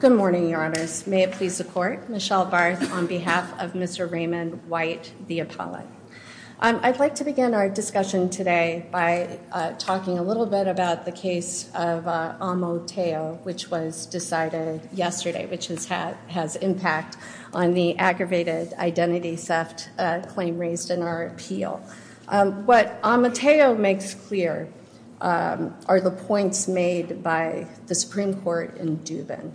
Good morning, your honors. May it please the court, Michelle Barth on behalf of Mr. Raymond White, the appellate. I'd like to begin our discussion today by talking a little bit about the case of Amoteo, which was decided yesterday, which has had has impact on the aggravated identity theft claim raised in our appeal. What Amoteo makes clear are the points made by the Supreme Court in Dubin,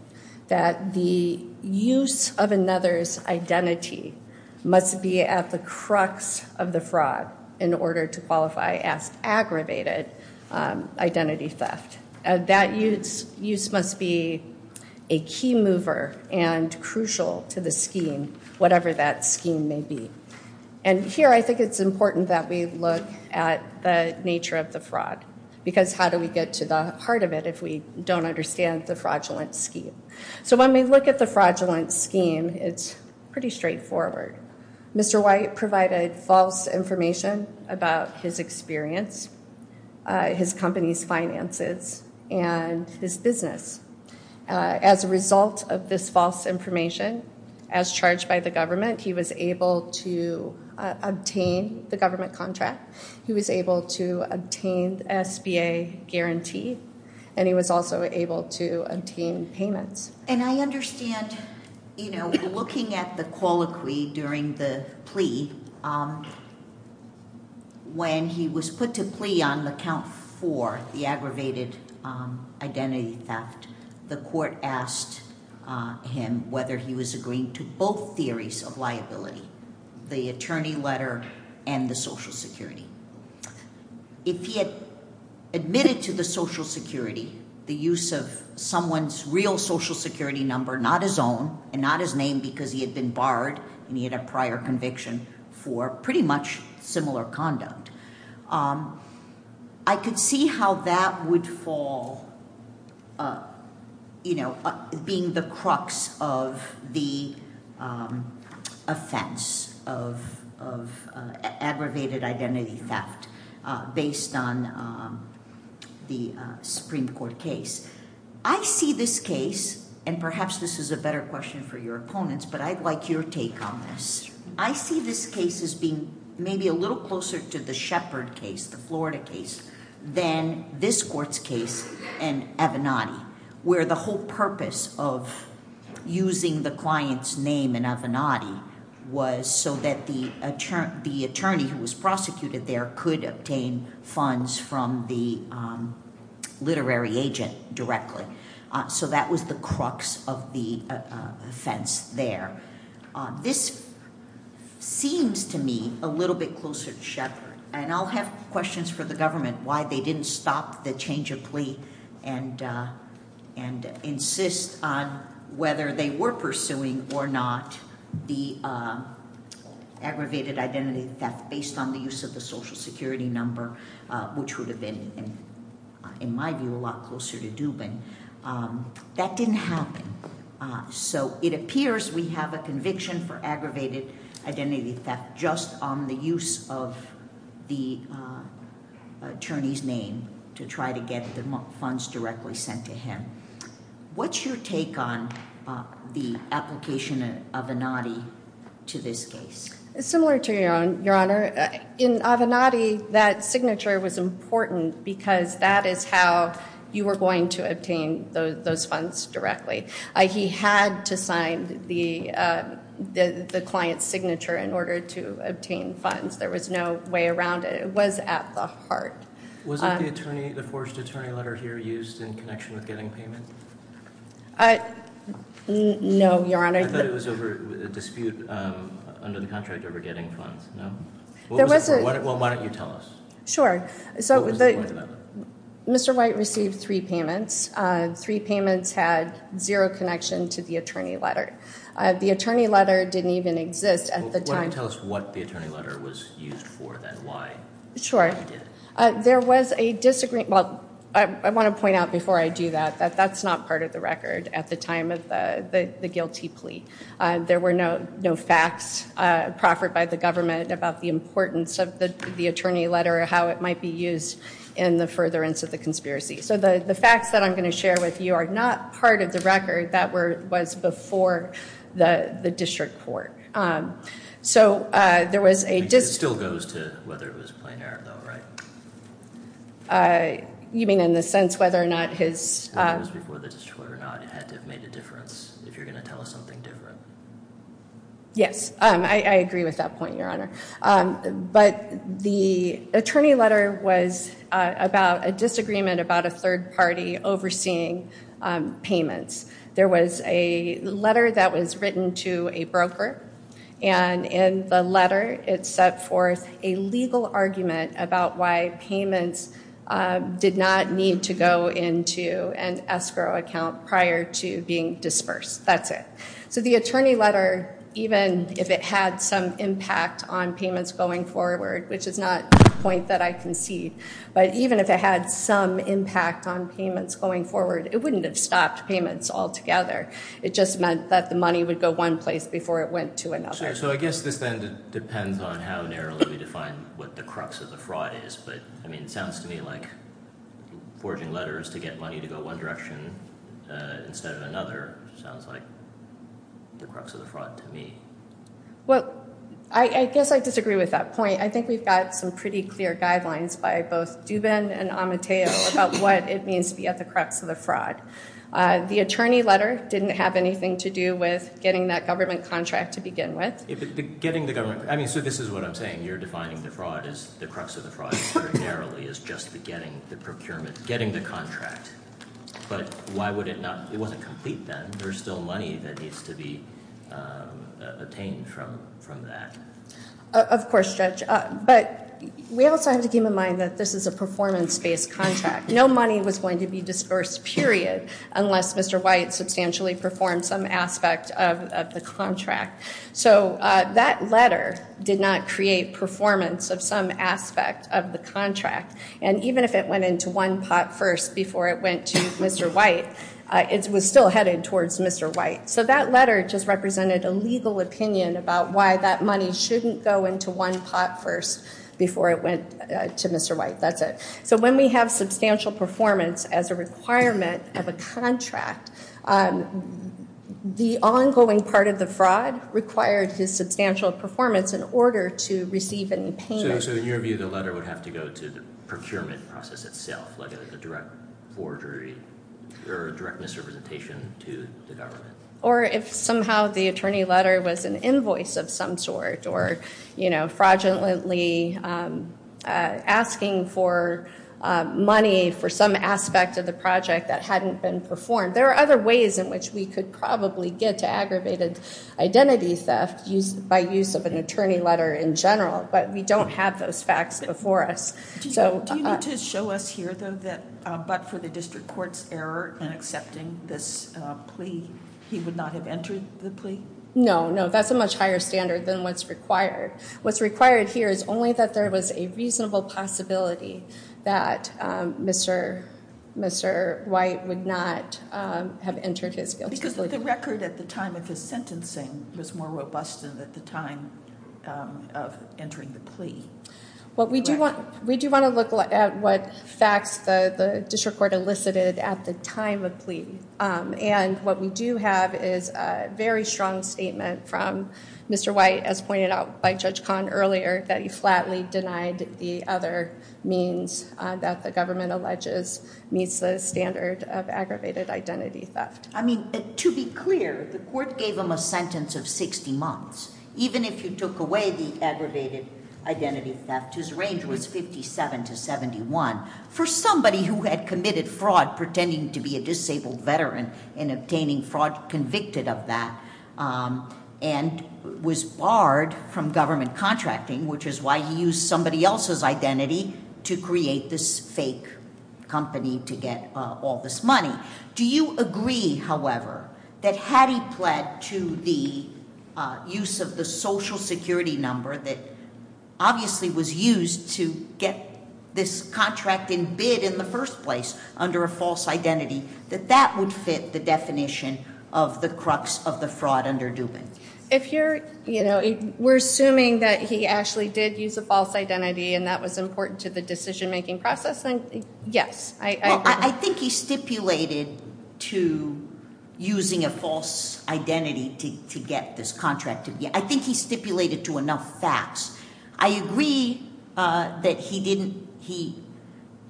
that the use of another's identity must be at the crux of the fraud in order to qualify as aggravated identity theft. That use must be a key mover and crucial to the scheme, whatever that scheme may be. And here I think it's important that we look at the nature of the fraud, because how do we get to the heart of it if we don't understand the fraudulent scheme? So when we look at the fraudulent scheme, it's pretty straightforward. Mr. White provided false information about his experience, his company's finances, and his business. As a result of this false information, as charged by the government, he was able to obtain the government contract, he was able to obtain the SBA guarantee, and he was also able to obtain payments. And I understand, you know, looking at the colloquy during the plea, when he was put to plea on the count four, the aggravated identity theft, the court asked him whether he was agreeing to both theories of liability, the attorney letter and the Social Security. If he had admitted to the Social Security, the use of someone's real Social Security number, not his own, and not his name because he had been barred, and he had a prior conviction for pretty much similar conduct. I could see how that would fall, you know, being the crux of the offense of aggravated identity theft, based on the Supreme Court case. I see this case, and perhaps this is a better question for your opponents, but I'd like your take on this. I see this case as being maybe a little closer to the Shepard case, the Florida case, than this court's case in Avenatti, where the whole purpose of using the client's name in Avenatti was so that the attorney who was prosecuted there could obtain funds from the literary agent directly. So that was the crux of the offense there. This seems to me a little bit closer to Shepard, and I'll have questions for the government why they didn't stop the change of plea and insist on whether they were pursuing or not the aggravated identity theft based on the use of the Social Security number, which would have been, in my view, a lot closer to Dubin. That didn't happen. So it appears we have a conviction for aggravated identity theft just on the use of the attorney's name to try to get the funds directly sent to him. What's your take on the application of Avenatti to this case? Similar to your honor, in Avenatti, that signature was important because that is how you were going to obtain those funds directly. He had to sign the client's signature in order to obtain funds. There was no way around it. It was at the heart. Was it the attorney, the forged attorney letter here used in connection with getting payment? No, your honor. I thought it was over a dispute under the contract over getting funds. No? Well, why don't you tell us? Sure. So Mr. White received three payments. Three payments had zero connection to the attorney letter. The attorney letter didn't even exist at the time. Tell us what the attorney letter was used for then. Why? Sure. There was a disagreement. Well, I want to point out before I do that that that's not part of the record at the time of the guilty plea. There were no facts proffered by the government about the importance of the attorney letter or how it might be used in the furtherance of the conspiracy. So the facts that I'm going to share with you are not part of the record. That was before the district court. So there was a... It still goes to whether it was plain error though, right? You mean in the sense whether or not his... It was before the district court or not. It had to have made a difference if you're going to tell us something different. Yes, I agree with that point, your honor. But the attorney letter was about a disagreement about a third party overseeing payments. There was a letter that was written to a broker and in the letter it set forth a legal argument about why payments did not need to go into an escrow account prior to being dispersed. That's it. So the attorney letter, even if it had some impact on payments going forward, which is not a point that I concede, but even if it had some impact on payments going forward, it wouldn't have stopped payments altogether. It just meant that the money would go one place before it went to another. So I guess this then depends on how narrowly we define what the crux of the fraud is. But I mean, it sounds to me like forging letters to get money to go one direction instead of another. Sounds like the crux of the fraud to me. Well, I guess I disagree with that point. I think we've got some pretty clear guidelines by both Dubin and Amateo about what it means to be at the crux of the fraud. The attorney letter didn't have anything to do with getting that government contract to begin with. Getting the government, I mean, so this is what I'm saying. You're defining the fraud as the crux of the fraud narrowly as just beginning the procurement, getting the contract. But why would it not, it wasn't complete then. There's still money that needs to be obtained from that. Of course, Judge. But we also have to keep in mind that this is a performance based contract. No money was going to be dispersed, period, unless Mr. White substantially performed some aspect of the contract. So that letter did not create performance of some aspect of the contract. And even if it went into one pot first before it went to Mr. White, it was still headed towards Mr. White. So that letter just represented a legal opinion about why that money shouldn't go into one pot first before it went to Mr. White. That's it. So when we have substantial performance as a requirement of a contract, the ongoing part of the fraud required his substantial performance in order to receive a payment. So in your view, the letter would have to go to the procurement process itself, like a direct forgery or a direct misrepresentation to the government. Or if somehow the attorney letter was an invoice of some sort or fraudulently asking for money for some aspect of the project that hadn't been performed. There are other ways in which we could probably get to aggravated identity theft by use of an attorney letter in general. But we don't have those facts before us. So- Do you need to show us here though that but for the district court's error in accepting this plea, he would not have entered the plea? No, no, that's a much higher standard than what's required. What's required here is only that there was a reasonable possibility that Mr. White would not have entered his guilty plea. Because the record at the time of his sentencing was more robust than at the time of entering the plea. What we do want, we do want to look at what facts the district court elicited at the time of plea. And what we do have is a very strong statement from Mr. White, as pointed out by Judge Kahn earlier, that he flatly denied the other means that the government alleges meets the standard of aggravated identity theft. I mean, to be clear, the court gave him a sentence of 60 months. Even if you took away the aggravated identity theft, his range was 57 to 71. For somebody who had committed fraud, pretending to be a disabled veteran and obtaining fraud convicted of that, and was barred from government contracting, which is why he used somebody else's identity to create this fake company to get all this money. Do you agree, however, that had he pled to the use of the social security number that obviously was used to get this contract in bid in the first place under a false identity, that that would fit the definition of the crux of the fraud under Dubin? If you're, we're assuming that he actually did use a false identity and that was important to the decision making process, then yes. I think he stipulated to using a false identity to get this contract. I think he stipulated to enough facts. I agree that he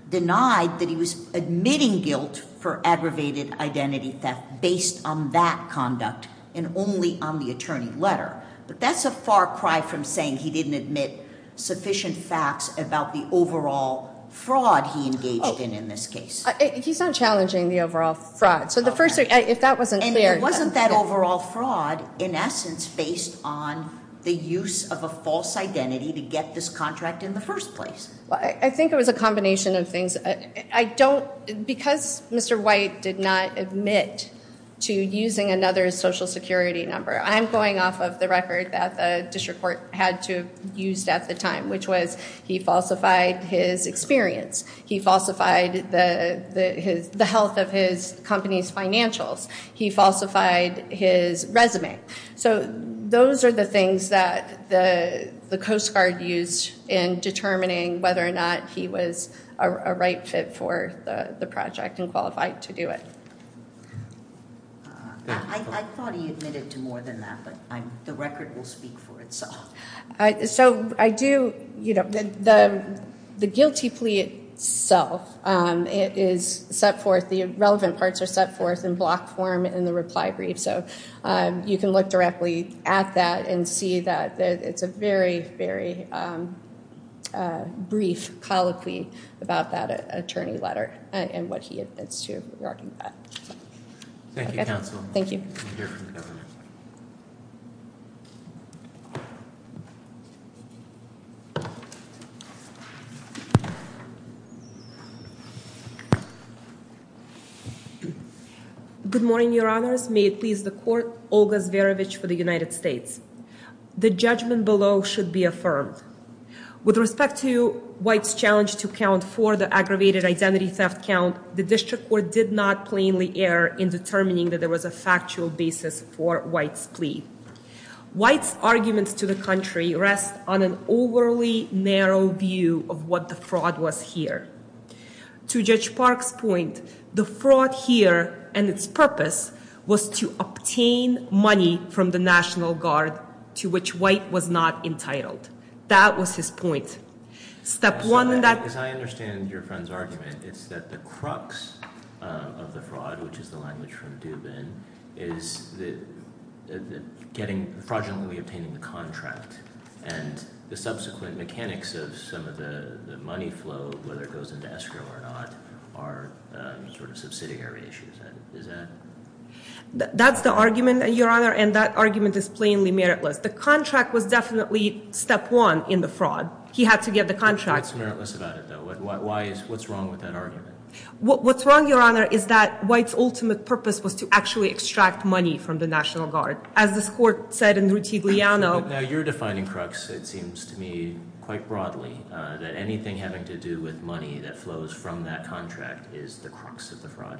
denied that he was admitting guilt for aggravated identity theft based on that conduct and only on the attorney letter. But that's a far cry from saying he didn't admit sufficient facts about the overall fraud he engaged in in this case. He's not challenging the overall fraud. So the first thing, if that wasn't clear. Wasn't that overall fraud, in essence, based on the use of a false identity to get this contract in the first place? I think it was a combination of things. I don't, because Mr. White did not admit to using another social security number. I'm going off of the record that the district court had to have used at the time, which was he falsified his experience. He falsified the health of his company's financials. He falsified his resume. So those are the things that the Coast Guard used in determining whether or not he was a right fit for the project and qualified to do it. I thought he admitted to more than that, but the record will speak for itself. So I do, the guilty plea itself, it is set forth, the relevant parts are set forth in block form in the reply brief. So you can look directly at that and see that it's a very, very brief colloquy about that attorney letter and what he admits to regarding that. Thank you, counsel. Thank you. Good morning, your honors. May it please the court, Olga Zverevich for the United States. The judgment below should be affirmed. With respect to White's challenge to account for the aggravated identity theft count, the district court did not plainly err in determining that there was a factual basis for White's plea. White's arguments to the country rest on an overly narrow view of what the fraud was here. To Judge Park's point, the fraud here and its purpose was to obtain money from the National Guard to which White was not entitled. That was his point. Step one in that- As I understand your friend's argument, it's that the crux of the fraud, which is the language from Dubin, is the fraudulently obtaining the contract. And the subsequent mechanics of some of the money flow, whether it goes into escrow or not, are sort of subsidiary issues. Is that? That's the argument, your honor, and that argument is plainly meritless. The contract was definitely step one in the fraud. He had to get the contract. What's meritless about it, though? What's wrong with that argument? What's wrong, your honor, is that White's ultimate purpose was to actually extract money from the National Guard. As this court said in Ruti Gliano- Now, you're defining crux, it seems to me, quite broadly. That anything having to do with money that flows from that contract is the crux of the fraud.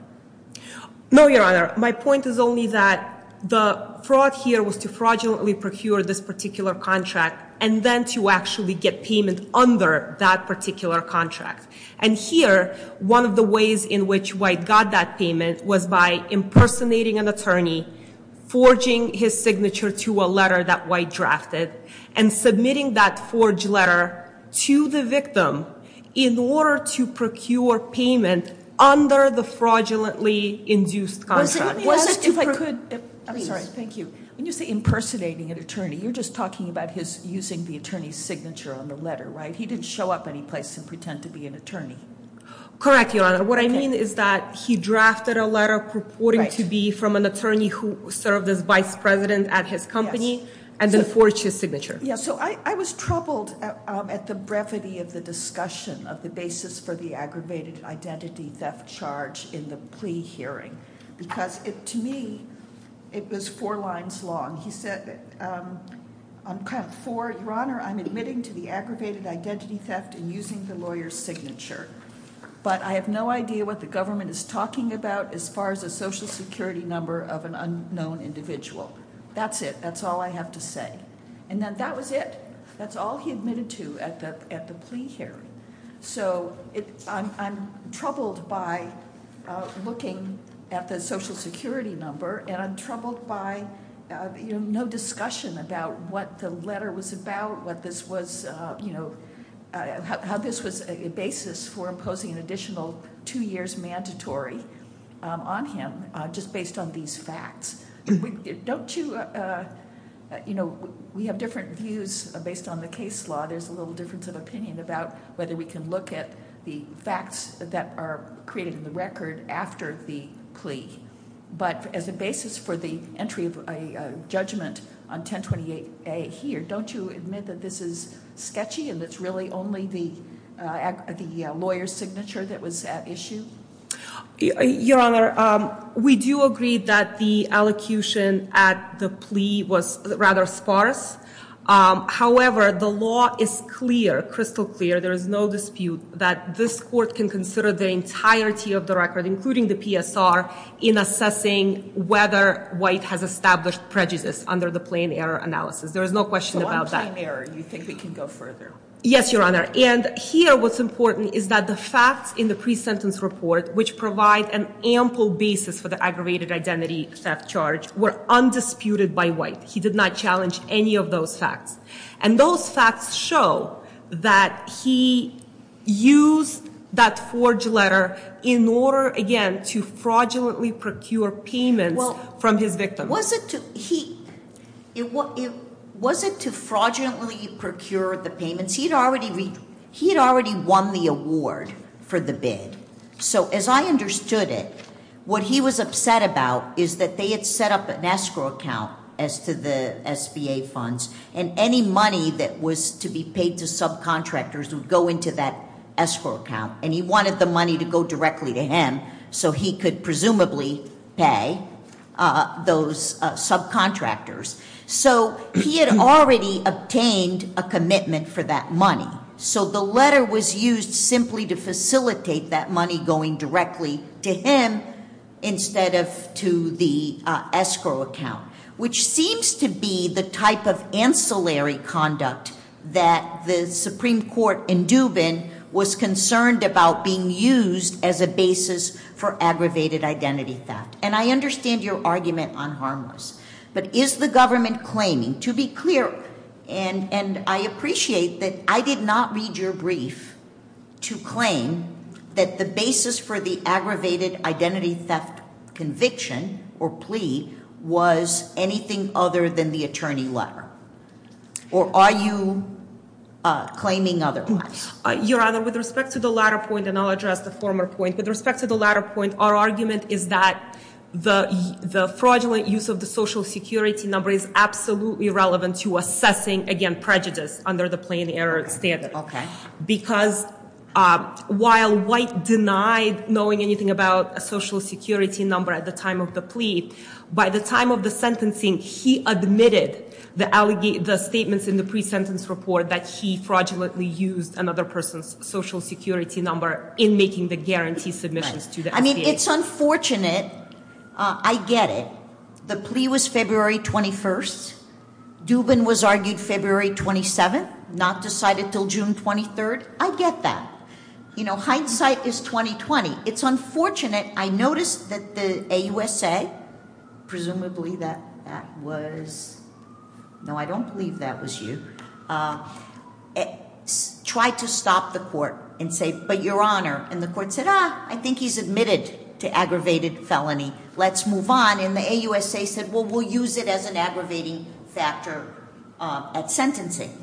No, your honor. My point is only that the fraud here was to fraudulently procure this particular contract, and then to actually get payment under that particular contract. And here, one of the ways in which White got that payment was by impersonating an attorney, forging his signature to a letter that White drafted, and submitting that forged letter to the victim in order to procure payment under the fraudulently induced contract. Was it to- If I could, I'm sorry, thank you. When you say impersonating an attorney, you're just talking about his using the attorney's signature on the letter, right? He didn't show up any place and pretend to be an attorney. Correct, your honor. What I mean is that he drafted a letter purporting to be from an attorney who served as Vice President at his company, and then forged his signature. Yeah, so I was troubled at the brevity of the discussion of the basis for the aggravated identity theft charge in the plea hearing. Because to me, it was four lines long. He said, I'm kind of for, your honor, I'm admitting to the aggravated identity theft and using the lawyer's signature. But I have no idea what the government is talking about as far as a social security number of an unknown individual. That's it, that's all I have to say. And then that was it, that's all he admitted to at the plea hearing. So I'm troubled by looking at the social security number, and I'm troubled by no discussion about what the letter was about, what this was, how this was a basis for imposing an additional two years mandatory on him, just based on these facts. Don't you, we have different views based on the case law. There's a little difference of opinion about whether we can look at the facts that are created in the record after the plea. But as a basis for the entry of a judgment on 1028A here, don't you admit that this is sketchy and it's really only the lawyer's signature that was at issue? Your Honor, we do agree that the allocution at the plea was rather sparse. However, the law is clear, crystal clear, there is no dispute that this court can consider the entirety of the record, including the PSR, in assessing whether White has established prejudice under the plain error analysis. There is no question about that. On plain error, you think we can go further? Yes, Your Honor, and here what's important is that the facts in the pre-sentence report, which provide an ample basis for the aggravated identity theft charge, were undisputed by White. He did not challenge any of those facts. And those facts show that he used that forged letter in order, again, to fraudulently procure payments from his victim. Was it to fraudulently procure the payments? He had already won the award for the bid. So as I understood it, what he was upset about is that they had set up an escrow account as to the SBA funds. And any money that was to be paid to subcontractors would go into that escrow account. And he wanted the money to go directly to him, so he could presumably pay those subcontractors. So he had already obtained a commitment for that money. So the letter was used simply to facilitate that money going directly to him, instead of to the escrow account, which seems to be the type of ancillary conduct that the Supreme Court in Dubin was concerned about being used as a basis for aggravated identity theft. And I understand your argument on harmless. But is the government claiming, to be clear, and I appreciate that I did not read your brief to claim that the basis for the aggravated identity theft conviction, or plea, was anything other than the attorney letter? Or are you claiming otherwise? Your Honor, with respect to the latter point, and I'll address the former point. With respect to the latter point, our argument is that the fraudulent use of the social security number is absolutely relevant to assessing, again, prejudice under the plain error standard. Okay. Because while White denied knowing anything about a social security number at the time of the plea, by the time of the sentencing, he admitted the statements in the pre-sentence report that he fraudulently used another person's social security number in making the guarantee submissions to the SBA. I mean, it's unfortunate, I get it. The plea was February 21st, Dubin was argued February 27th, not decided until June 23rd, I get that. Hindsight is 20-20. It's unfortunate, I noticed that the AUSA, presumably that was, no, I don't believe that was you, tried to stop the court and say, but your honor. And the court said, I think he's admitted to aggravated felony, let's move on. And the AUSA said, well, we'll use it as an aggravating factor at sentencing.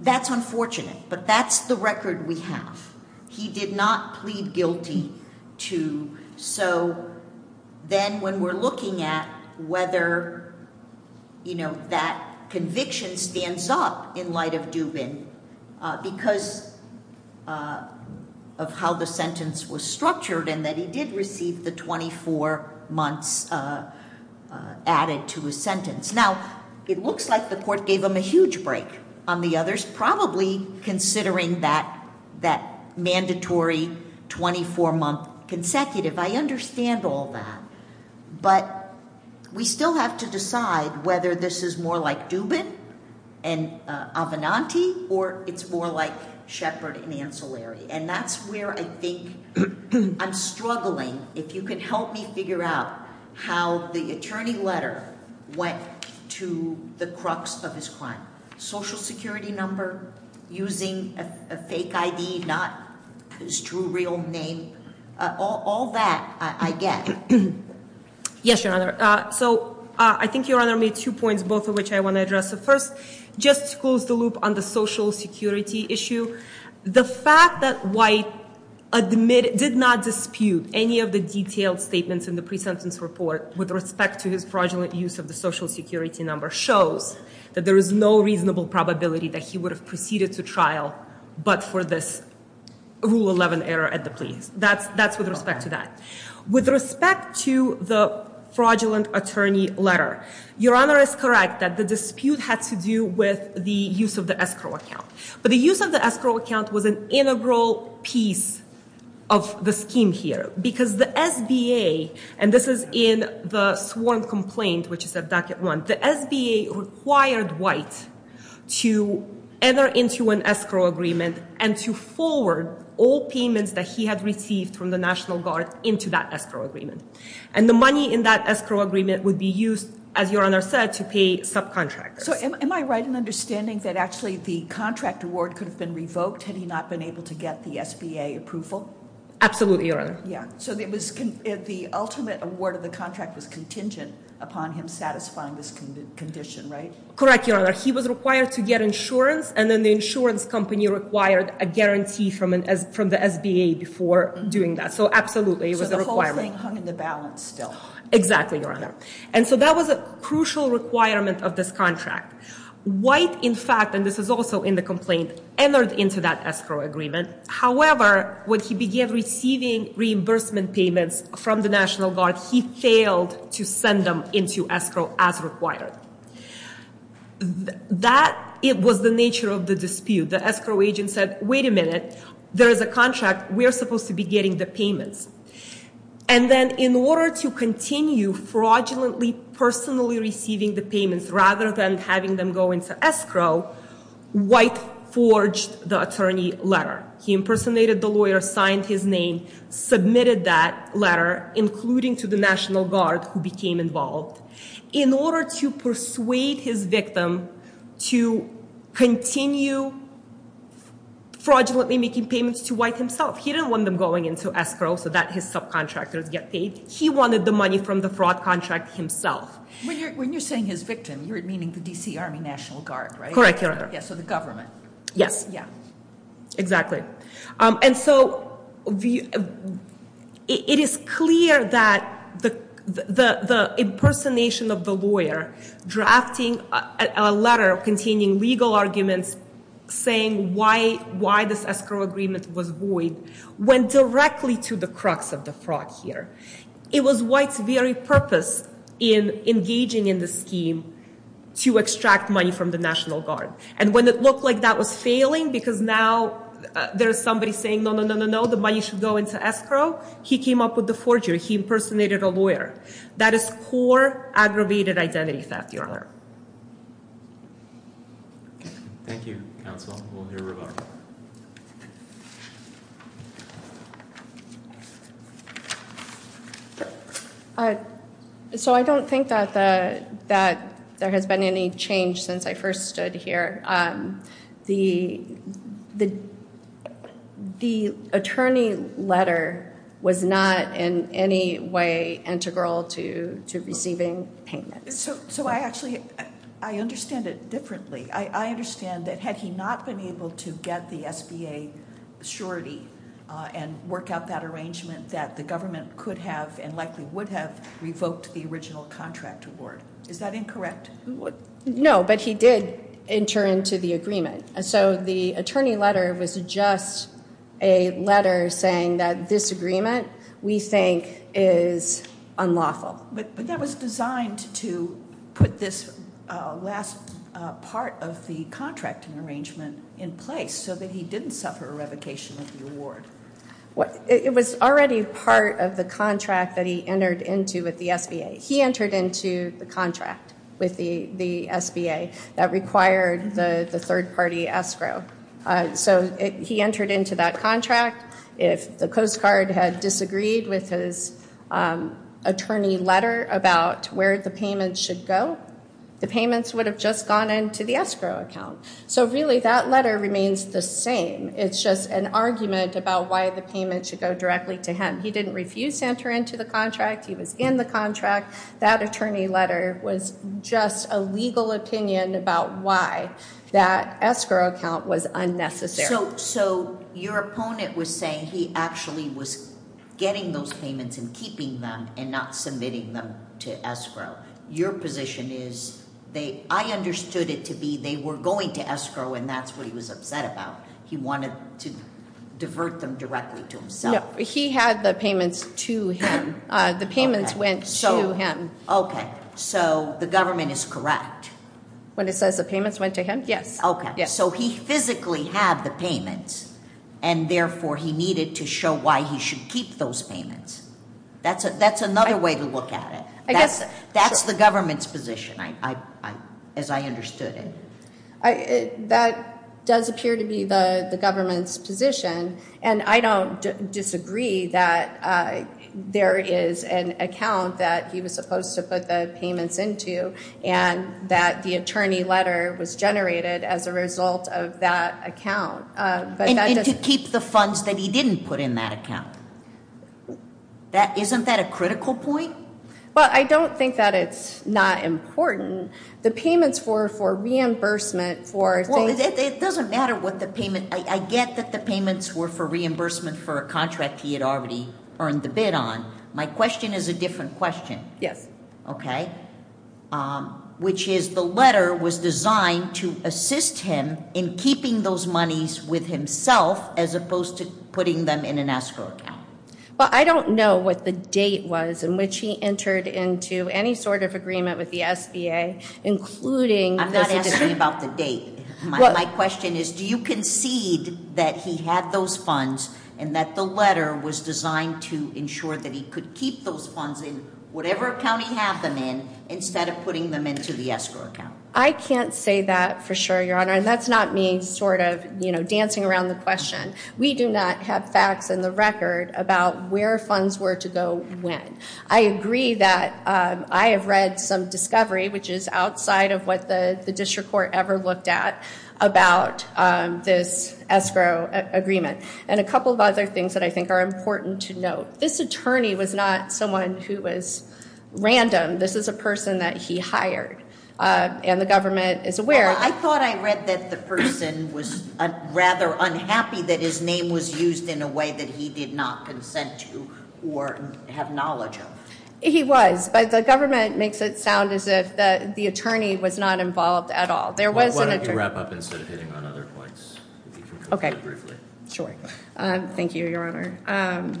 That's unfortunate, but that's the record we have. He did not plead guilty to, so then when we're looking at whether that conviction stands up in light of Dubin, because of how the sentence was structured and that he did receive the 24 months added to his sentence. Now, it looks like the court gave him a huge break on the others, probably considering that mandatory 24 month consecutive. I understand all that. But we still have to decide whether this is more like Dubin and Avenanti, or it's more like Shepard and Ancillary. And that's where I think I'm struggling. If you could help me figure out how the attorney letter went to the crux of his crime. Social security number, using a fake ID, not his true real name. All that I get. Yes, your honor. So, I think your honor made two points, both of which I want to address. So first, just to close the loop on the social security issue. The fact that White did not dispute any of the detailed statements in the pre-sentence report with respect to his fraudulent use of the social security number shows that there is no reasonable probability that he would have proceeded to trial but for this rule 11 error at the police. That's with respect to that. With respect to the fraudulent attorney letter, your honor is correct that the dispute had to do with the use of the escrow account. But the use of the escrow account was an integral piece of the scheme here. Because the SBA, and this is in the sworn complaint, which is at docket one. The SBA required White to enter into an escrow agreement and to forward all payments that he had received from the National Guard into that escrow agreement. And the money in that escrow agreement would be used, as your honor said, to pay subcontractors. So am I right in understanding that actually the contract award could have been revoked had he not been able to get the SBA approval? Absolutely, your honor. Yeah, so the ultimate award of the contract was contingent upon him satisfying this condition, right? Correct, your honor. He was required to get insurance, and then the insurance company required a guarantee from the SBA before doing that. So absolutely, it was a requirement. So the whole thing hung in the balance still. Exactly, your honor. And so that was a crucial requirement of this contract. White, in fact, and this is also in the complaint, entered into that escrow agreement. However, when he began receiving reimbursement payments from the National Guard, he failed to send them into escrow as required. That was the nature of the dispute. The escrow agent said, wait a minute, there is a contract, we are supposed to be getting the payments. And then in order to continue fraudulently, personally receiving the payments rather than having them go into escrow, White forged the attorney letter. He impersonated the lawyer, signed his name, submitted that letter, including to the National Guard, who became involved. In order to persuade his victim to continue fraudulently making payments to White himself, he didn't want them going into escrow so that his subcontractors get paid. He wanted the money from the fraud contract himself. When you're saying his victim, you're meaning the DC Army National Guard, right? Correct, your honor. Yeah, so the government. Yes. Yeah. Exactly. And so it is clear that the impersonation of the lawyer, drafting a letter containing legal arguments saying why this escrow agreement was void, went directly to the crux of the fraud here. It was White's very purpose in engaging in the scheme to extract money from the National Guard. And when it looked like that was failing, because now there's somebody saying, no, no, no, no, no, the money should go into escrow, he came up with the forgery. He impersonated a lawyer. That is poor, aggravated identity theft, your honor. Thank you, counsel. We'll hear from her. So I don't think that there has been any change since I first stood here. The attorney letter was not in any way integral to receiving payment. So I actually, I understand it differently. I understand that had he not been able to get the SBA surety and work out that arrangement that the government could have and likely would have revoked the original contract award. Is that incorrect? No, but he did enter into the agreement. So the attorney letter was just a letter saying that this agreement we think is unlawful. But that was designed to put this last part of the contract and arrangement in place so that he didn't suffer a revocation of the award. It was already part of the contract that he entered into with the SBA. He entered into the contract with the SBA that required the third party escrow. So he entered into that contract. If the Coast Guard had disagreed with his attorney letter about where the payment should go, the payments would have just gone into the escrow account. So really, that letter remains the same. It's just an argument about why the payment should go directly to him. He didn't refuse to enter into the contract. He was in the contract. That attorney letter was just a legal opinion about why that escrow account was unnecessary. So your opponent was saying he actually was getting those payments and keeping them and not submitting them to escrow. Your position is, I understood it to be they were going to escrow and that's what he was upset about. He wanted to divert them directly to himself. He had the payments to him. The payments went to him. Okay, so the government is correct. When it says the payments went to him, yes. Okay, so he physically had the payments and therefore he needed to show why he should keep those payments. That's another way to look at it. That's the government's position, as I understood it. That does appear to be the government's position. And I don't disagree that there is an account that he was supposed to put the payments into. And that the attorney letter was generated as a result of that account. But that doesn't- And to keep the funds that he didn't put in that account. Isn't that a critical point? Well, I don't think that it's not important. The payments were for reimbursement for- Well, it doesn't matter what the payment, I get that the payments were for reimbursement for a contract he had already earned the bid on. My question is a different question. Yes. Okay, which is the letter was designed to assist him in keeping those monies with himself as opposed to putting them in an escrow account. Well, I don't know what the date was in which he entered into any sort of agreement with the SBA, including- I'm not asking about the date. My question is, do you concede that he had those funds and that the letter was designed to ensure that he could keep those funds in whatever account he had them in, instead of putting them into the escrow account? I can't say that for sure, Your Honor, and that's not me sort of dancing around the question. We do not have facts in the record about where funds were to go when. I agree that I have read some discovery, which is outside of what the district court ever looked at, about this escrow agreement, and a couple of other things that I think are important to note. This attorney was not someone who was random. This is a person that he hired, and the government is aware- I thought I read that the person was rather unhappy that his name was used in a way that he did not consent to or have knowledge of. He was, but the government makes it sound as if the attorney was not involved at all. There was an attorney- Why don't you wrap up instead of hitting on other points? Okay. Sure. Thank you, Your Honor.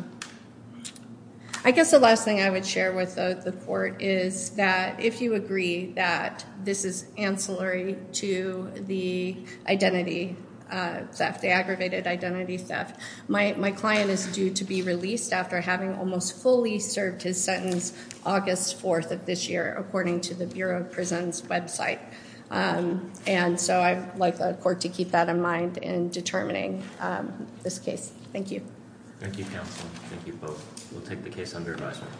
I guess the last thing I would share with the court is that if you agree that this is ancillary to the identity theft, the aggravated identity theft, my client is due to be released after having almost fully served his sentence August 4th of this year, according to the Bureau of Prisons website. And so I'd like the court to keep that in mind in determining this case. Thank you. Thank you, counsel. Thank you both. We'll take the case under advisement.